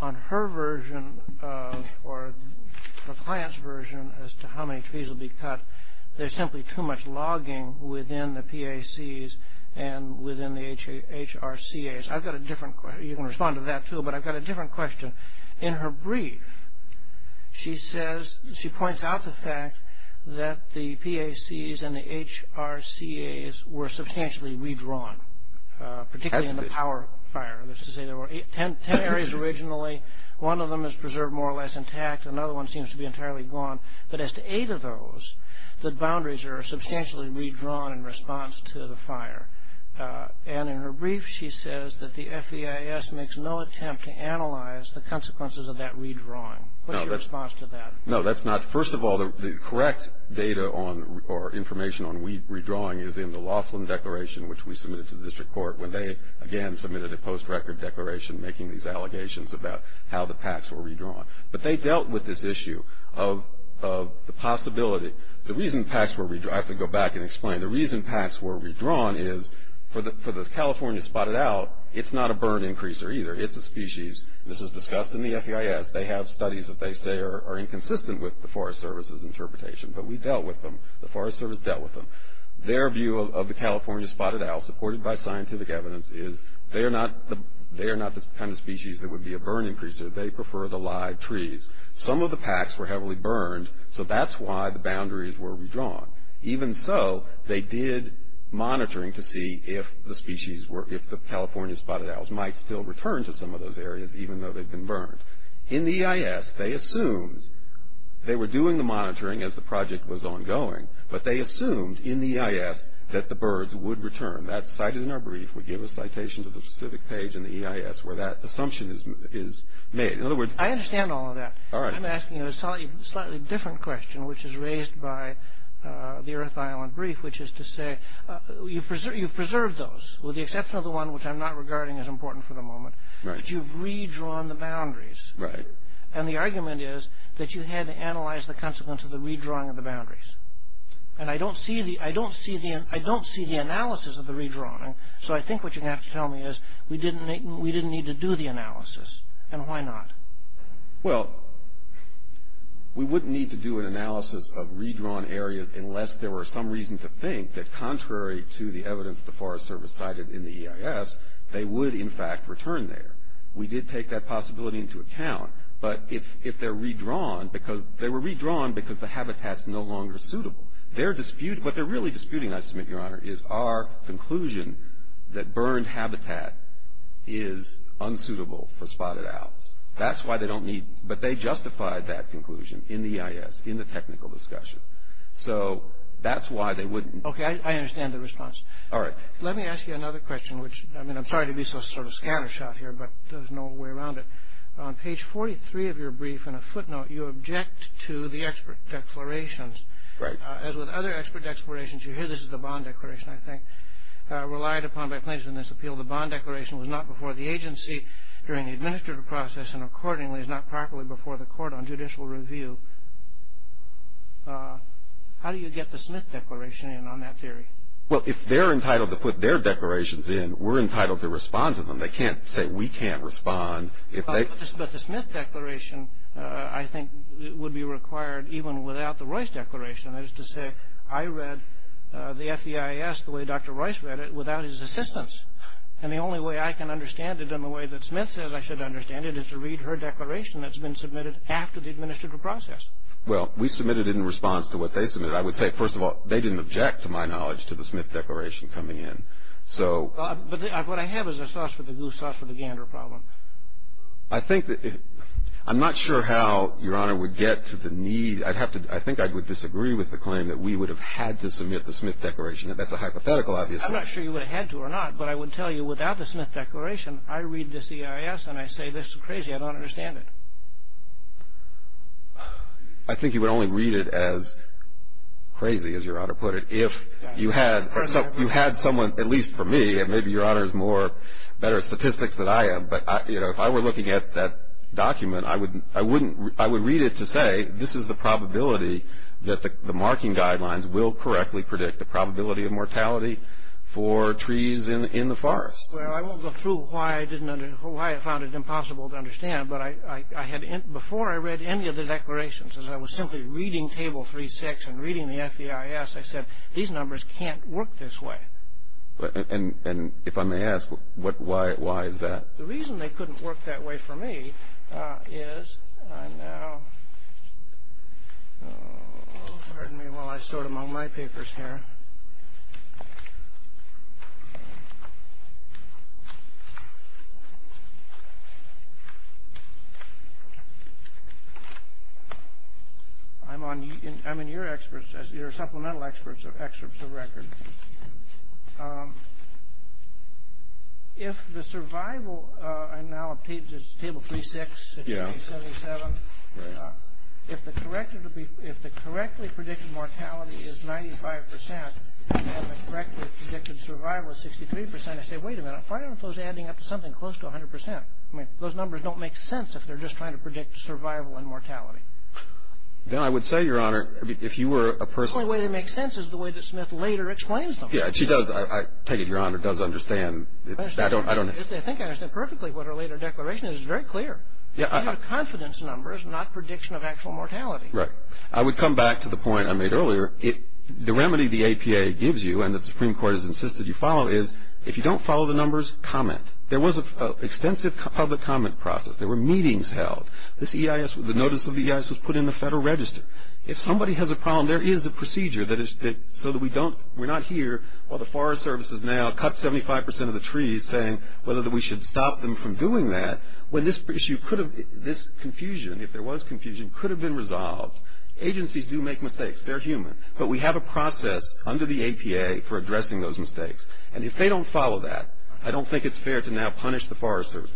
on her version or the client's version as to how many trees will be cut, there's simply too much logging within the PACs and within the HRCAs. I've got a different question. You can respond to that, too, but I've got a different question. In her brief, she points out the fact that the PACs and the HRCAs were substantially redrawn, particularly in the power fire. That's to say there were ten areas originally. One of them is preserved more or less intact. Another one seems to be entirely gone. But as to eight of those, the boundaries are substantially redrawn in response to the fire. And in her brief, she says that the FEIS makes no attempt to analyze the consequences of that redrawing. What's your response to that? No, that's not. First of all, the correct data or information on redrawing is in the Laughlin Declaration, which we submitted to the district court when they, again, submitted a post-record declaration making these allegations about how the PACs were redrawn. But they dealt with this issue of the possibility. The reason PACs were redrawn, I have to go back and explain. The reason PACs were redrawn is for the California spotted owl, it's not a burn-increaser either. It's a species. This is discussed in the FEIS. They have studies that they say are inconsistent with the Forest Service's interpretation. But we dealt with them. The Forest Service dealt with them. Their view of the California spotted owl, supported by scientific evidence, is they are not the kind of species that would be a burn-increaser. They prefer the live trees. Some of the PACs were heavily burned, so that's why the boundaries were redrawn. Even so, they did monitoring to see if the California spotted owls might still return to some of those areas, even though they've been burned. In the EIS, they assumed they were doing the monitoring as the project was ongoing, but they assumed in the EIS that the birds would return. That's cited in our brief. We give a citation to the specific page in the EIS where that assumption is made. In other words, I understand all of that. All right. I'm asking you a slightly different question, which is raised by the Earth Island brief, which is to say you've preserved those, with the exception of the one which I'm not regarding as important for the moment, but you've redrawn the boundaries. Right. And the argument is that you had to analyze the consequence of the redrawing of the boundaries. And I don't see the analysis of the redrawing, so I think what you're going to have to tell me is we didn't need to do the analysis. And why not? Well, we wouldn't need to do an analysis of redrawn areas unless there were some reason to think that, contrary to the evidence the Forest Service cited in the EIS, they would, in fact, return there. We did take that possibility into account. But if they're redrawn because they were redrawn because the habitat's no longer suitable, what they're really disputing, I submit, Your Honor, is our conclusion that burned habitat is unsuitable for spotted owls. That's why they don't need it. But they justified that conclusion in the EIS, in the technical discussion. So that's why they wouldn't. Okay. I understand the response. All right. Let me ask you another question, which, I mean, I'm sorry to be so sort of scanner shot here, but there's no way around it. On page 43 of your brief, in a footnote, you object to the expert declarations. Right. As with other expert declarations, you hear this is the bond declaration, I think, relied upon by plaintiffs in this appeal. The bond declaration was not before the agency during the administrative process and accordingly is not properly before the court on judicial review. How do you get the Smith Declaration in on that theory? Well, if they're entitled to put their declarations in, we're entitled to respond to them. They can't say we can't respond if they can't. But the Smith Declaration, I think, would be required even without the Royce Declaration. That is to say, I read the FEIS the way Dr. Royce read it without his assistance. And the only way I can understand it in the way that Smith says I should understand it is to read her declaration that's been submitted after the administrative process. Well, we submitted it in response to what they submitted. I would say, first of all, they didn't object, to my knowledge, to the Smith Declaration coming in. So — But what I have is a sauce for the goose, sauce for the gander problem. I think that — I'm not sure how Your Honor would get to the need. I'd have to — I think I would disagree with the claim that we would have had to submit the Smith Declaration. That's a hypothetical, obviously. I'm not sure you would have had to or not. But I would tell you, without the Smith Declaration, I read this EIS and I say, this is crazy. I don't understand it. I think you would only read it as crazy, as Your Honor put it, if you had someone, at least for me, and maybe Your Honor is more — better at statistics than I am. But, you know, if I were looking at that document, I would read it to say, this is the probability that the marking guidelines will correctly predict the probability of mortality for trees in the forest. Well, I won't go through why I found it impossible to understand, but I had — before I read any of the declarations, as I was simply reading Table 3-6 and reading the FDIS, I said, these numbers can't work this way. And if I may ask, why is that? Well, the reason they couldn't work that way for me is — I'm now — pardon me while I sort among my papers here. I'm on — I'm in your experts — your supplemental experts of excerpts of record. If the survival — I'm now on Page — it's Table 3-6. Yeah. Page 77. Right. If the correctly predicted mortality is 95 percent and the correctly predicted survival is 63 percent, I say, wait a minute, why aren't those adding up to something close to 100 percent? I mean, those numbers don't make sense if they're just trying to predict survival and mortality. Then I would say, Your Honor, if you were a person — The only way they make sense is the way that Smith later explains them. Yeah, she does. I take it, Your Honor, does understand. I don't — I think I understand perfectly what her later declaration is. It's very clear. Yeah. Confidence numbers, not prediction of actual mortality. Right. I would come back to the point I made earlier. The remedy the APA gives you and the Supreme Court has insisted you follow is, if you don't follow the numbers, comment. There was an extensive public comment process. There were meetings held. This EIS — the notice of the EIS was put in the Federal Register. If somebody has a problem, there is a procedure that is — so that we don't — we're not here while the Forest Service is now — cuts 75 percent of the trees saying whether we should stop them from doing that. When this issue could have — this confusion, if there was confusion, could have been resolved. Agencies do make mistakes. They're human. But we have a process under the APA for addressing those mistakes. And if they don't follow that, I don't think it's fair to now punish the Forest Service.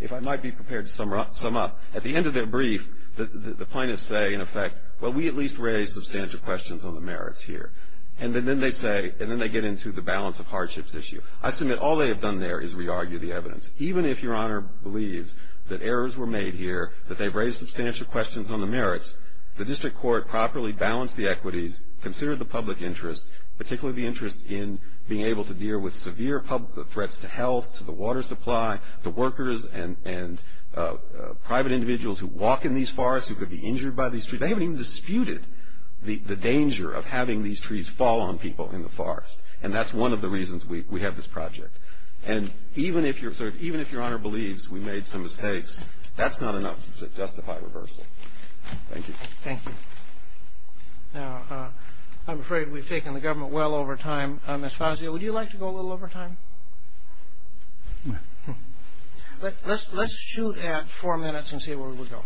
If I might be prepared to sum up, at the end of their brief, the plaintiffs say, in effect, well, we at least raised substantial questions on the merits here. And then they say — and then they get into the balance of hardships issue. I submit all they have done there is re-argue the evidence. Even if Your Honor believes that errors were made here, that they've raised substantial questions on the merits, the district court properly balanced the equities, considered the public interest, particularly the interest in being able to deal with severe public threats to health, to the water supply, the workers and private individuals who walk in these forests, who could be injured by these trees. They haven't even disputed the danger of having these trees fall on people in the forest. And that's one of the reasons we have this project. And even if Your Honor believes we made some mistakes, that's not enough to justify reversal. Thank you. Thank you. Now, I'm afraid we've taken the government well over time. Ms. Fazio, would you like to go a little over time? Let's shoot at four minutes and see where we go.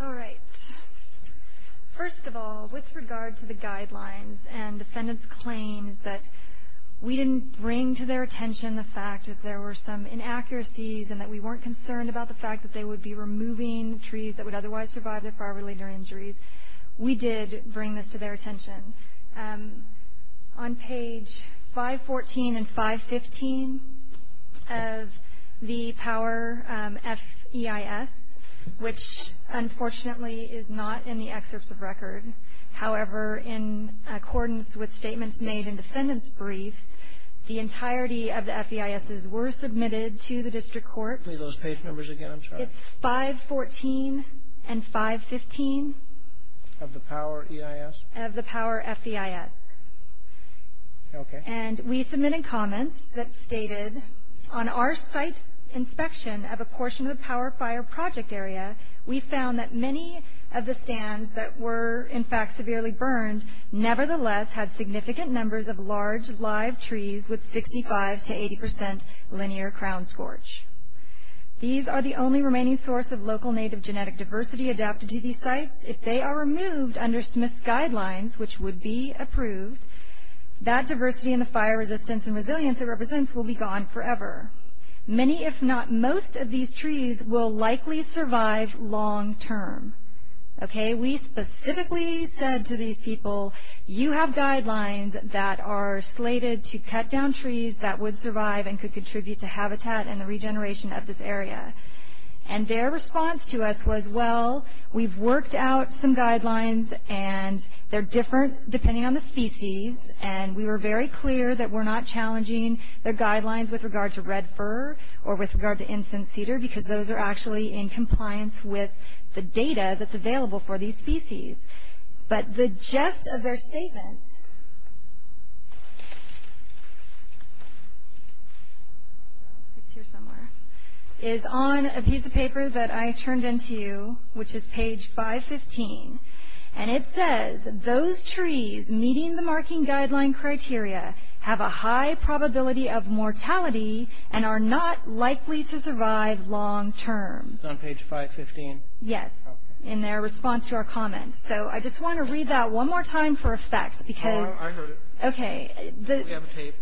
All right. First of all, with regard to the guidelines and defendants' claims that we didn't bring to their attention the fact that there were some inaccuracies and that we weren't concerned about the fact that they would be removing trees that would otherwise survive their fire-related injuries, we did bring this to their attention. On page 514 and 515 of the Power FEIS, which unfortunately is not in the excerpts of record, however, in accordance with statements made in defendants' briefs, the entirety of the FEISs were submitted to the district courts. Read those page numbers again. I'm sorry. It's 514 and 515. Of the Power EIS? Of the Power FEIS. Okay. And we submitted comments that stated, on our site inspection of a portion of the Power Fire project area, we found that many of the stands that were in fact severely burned nevertheless had significant numbers of large live trees with 65 to 80 percent linear crown scorch. These are the only remaining source of local native genetic diversity adapted to these sites. If they are removed under Smith's guidelines, which would be approved, that diversity in the fire resistance and resilience it represents will be gone forever. Many, if not most, of these trees will likely survive long-term. Okay? We specifically said to these people, you have guidelines that are slated to cut down trees that would survive and could contribute to habitat and the regeneration of this area. And their response to us was, well, we've worked out some guidelines, and they're different depending on the species, and we were very clear that we're not challenging their guidelines with regard to red fir or with regard to incense cedar, because those are actually in compliance with the data that's available for these species. But the gist of their statement is on a piece of paper that I turned in to you, which is page 515. And it says, those trees meeting the marking guideline criteria have a high probability of mortality and are not likely to survive long-term. It's on page 515? Yes. Okay. And that's in their response to our comments. So I just want to read that one more time for effect. I heard it. Okay. We have a tape.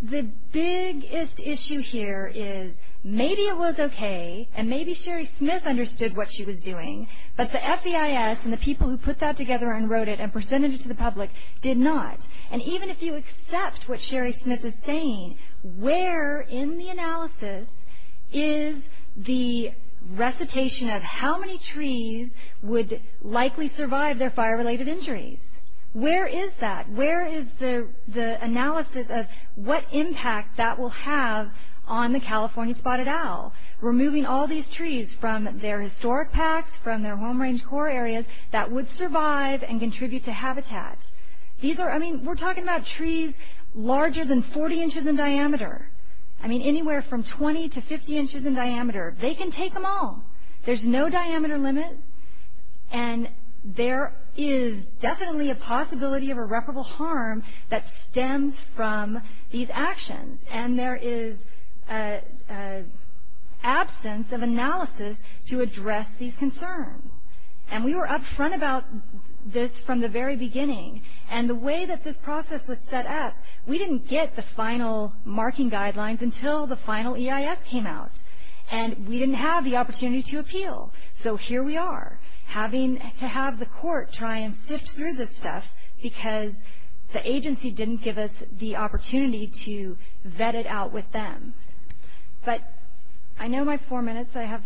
The biggest issue here is maybe it was okay, and maybe Sherry Smith understood what she was doing, but the FEIS and the people who put that together and wrote it and presented it to the public did not. And even if you accept what Sherry Smith is saying, where in the analysis is the recitation of how many trees would likely survive their fire-related injuries? Where is that? Where is the analysis of what impact that will have on the California spotted owl, removing all these trees from their historic packs, from their home range core areas, that would survive and contribute to habitat? I mean, we're talking about trees larger than 40 inches in diameter. I mean, anywhere from 20 to 50 inches in diameter. They can take them all. There's no diameter limit, and there is definitely a possibility of irreparable harm that stems from these actions, and there is absence of analysis to address these concerns. And we were up front about this from the very beginning, and the way that this process was set up, we didn't get the final marking guidelines until the final EIS came out, and we didn't have the opportunity to appeal. So here we are having to have the court try and sift through this stuff because the agency didn't give us the opportunity to vet it out with them. But I know my four minutes, I have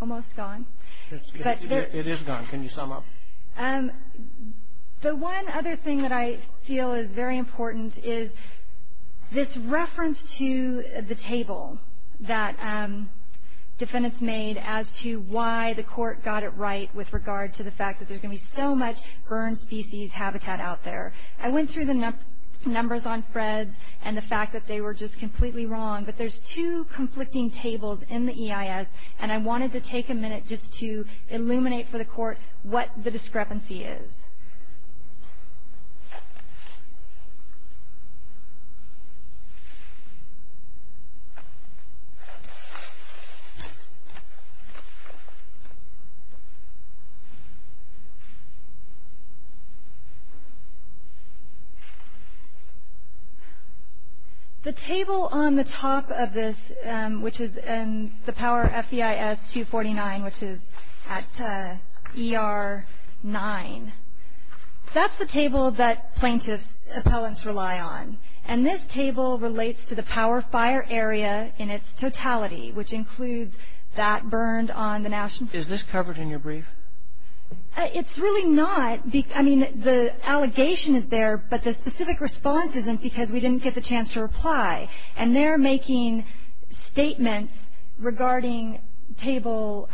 almost gone. It is gone. Can you sum up? The one other thing that I feel is very important is this reference to the table that defendants made as to why the court got it right with regard to the fact that there's going to be so much burned species habitat out there. I went through the numbers on Fred's and the fact that they were just completely wrong, but there's two conflicting tables in the EIS, and I wanted to take a minute just to illuminate for the court what the discrepancy is. The table on the top of this, which is in the Power FBIS 249, which is at ER 9, that's the table that plaintiffs' appellants rely on, and this table relates to the Power Fire area in its totality, which includes that burned on the National Park. Is this covered in your brief? It's really not. I mean, the allegation is there, but the specific response isn't because we didn't get the chance to reply. And they're making statements regarding Table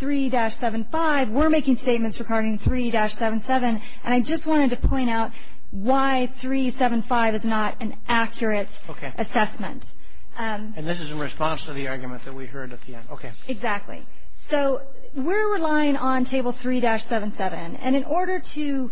3-75. We're making statements regarding 3-77. And I just wanted to point out why 3-75 is not an accurate assessment. And this is in response to the argument that we heard at the end. Exactly. So we're relying on Table 3-77, and in order to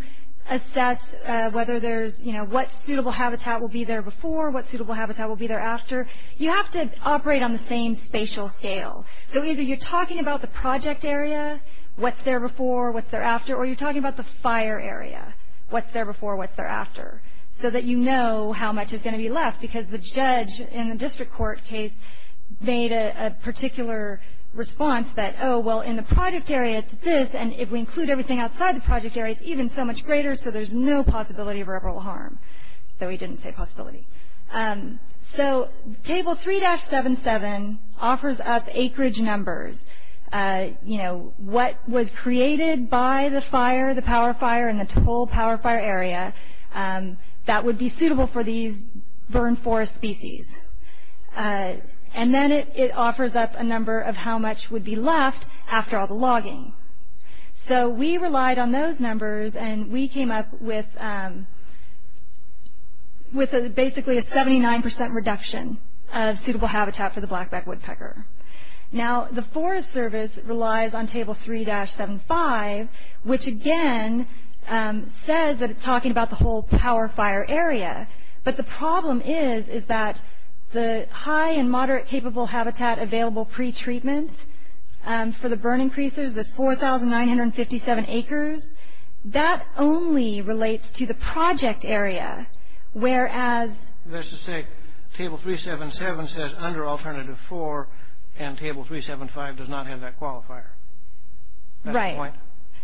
assess whether there's, you know, what suitable habitat will be there before, what suitable habitat will be there after, you have to operate on the same spatial scale. So either you're talking about the project area, what's there before, what's there after, or you're talking about the fire area, what's there before, what's there after, so that you know how much is going to be left, because the judge in the district court case made a particular response that, oh, well, in the project area it's this, and if we include everything outside the project area, it's even so much greater, so there's no possibility of irreparable harm, though he didn't say possibility. So Table 3-77 offers up acreage numbers, you know, what was created by the fire, the power fire and the total power fire area, that would be suitable for these burn forest species. And then it offers up a number of how much would be left after all the logging. So we relied on those numbers, and we came up with basically a 79% reduction of suitable habitat for the blackback woodpecker. Now, the Forest Service relies on Table 3-75, which again says that it's talking about the whole power fire area, but the problem is that the high and moderate capable habitat available pre-treatment for the burn increasers is 4,957 acres. That only relates to the project area, whereas... That's to say Table 3-77 says under Alternative 4, and Table 3-75 does not have that qualifier. Right. That's the point?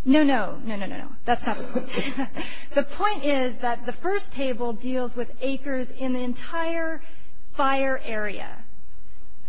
No, no. No, no, no, no. That's not the point. The point is that the first table deals with acres in the entire fire area.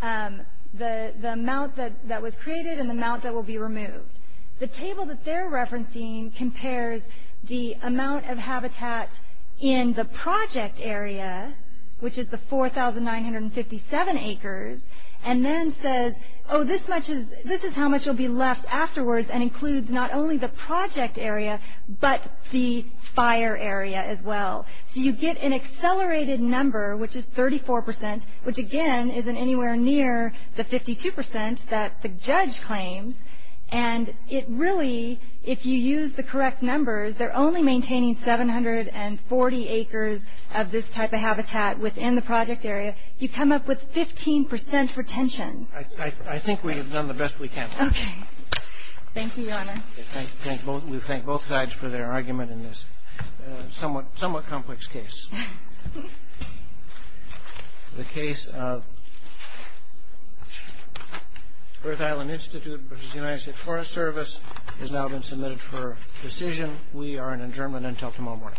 The amount that was created and the amount that will be removed. The table that they're referencing compares the amount of habitat in the project area, which is the 4,957 acres, and then says, oh, this is how much will be left afterwards, and includes not only the project area, but the fire area as well. So you get an accelerated number, which is 34%, which again isn't anywhere near the 52% that the judge claims, and it really, if you use the correct numbers, they're only maintaining 740 acres of this type of habitat within the project area. You come up with 15% retention. I think we have done the best we can. Okay. Thank you, Your Honor. We thank both sides for their argument in this somewhat complex case. The case of Earth Island Institute versus the United States Forest Service has now been submitted for decision. We are in adjournment until tomorrow morning.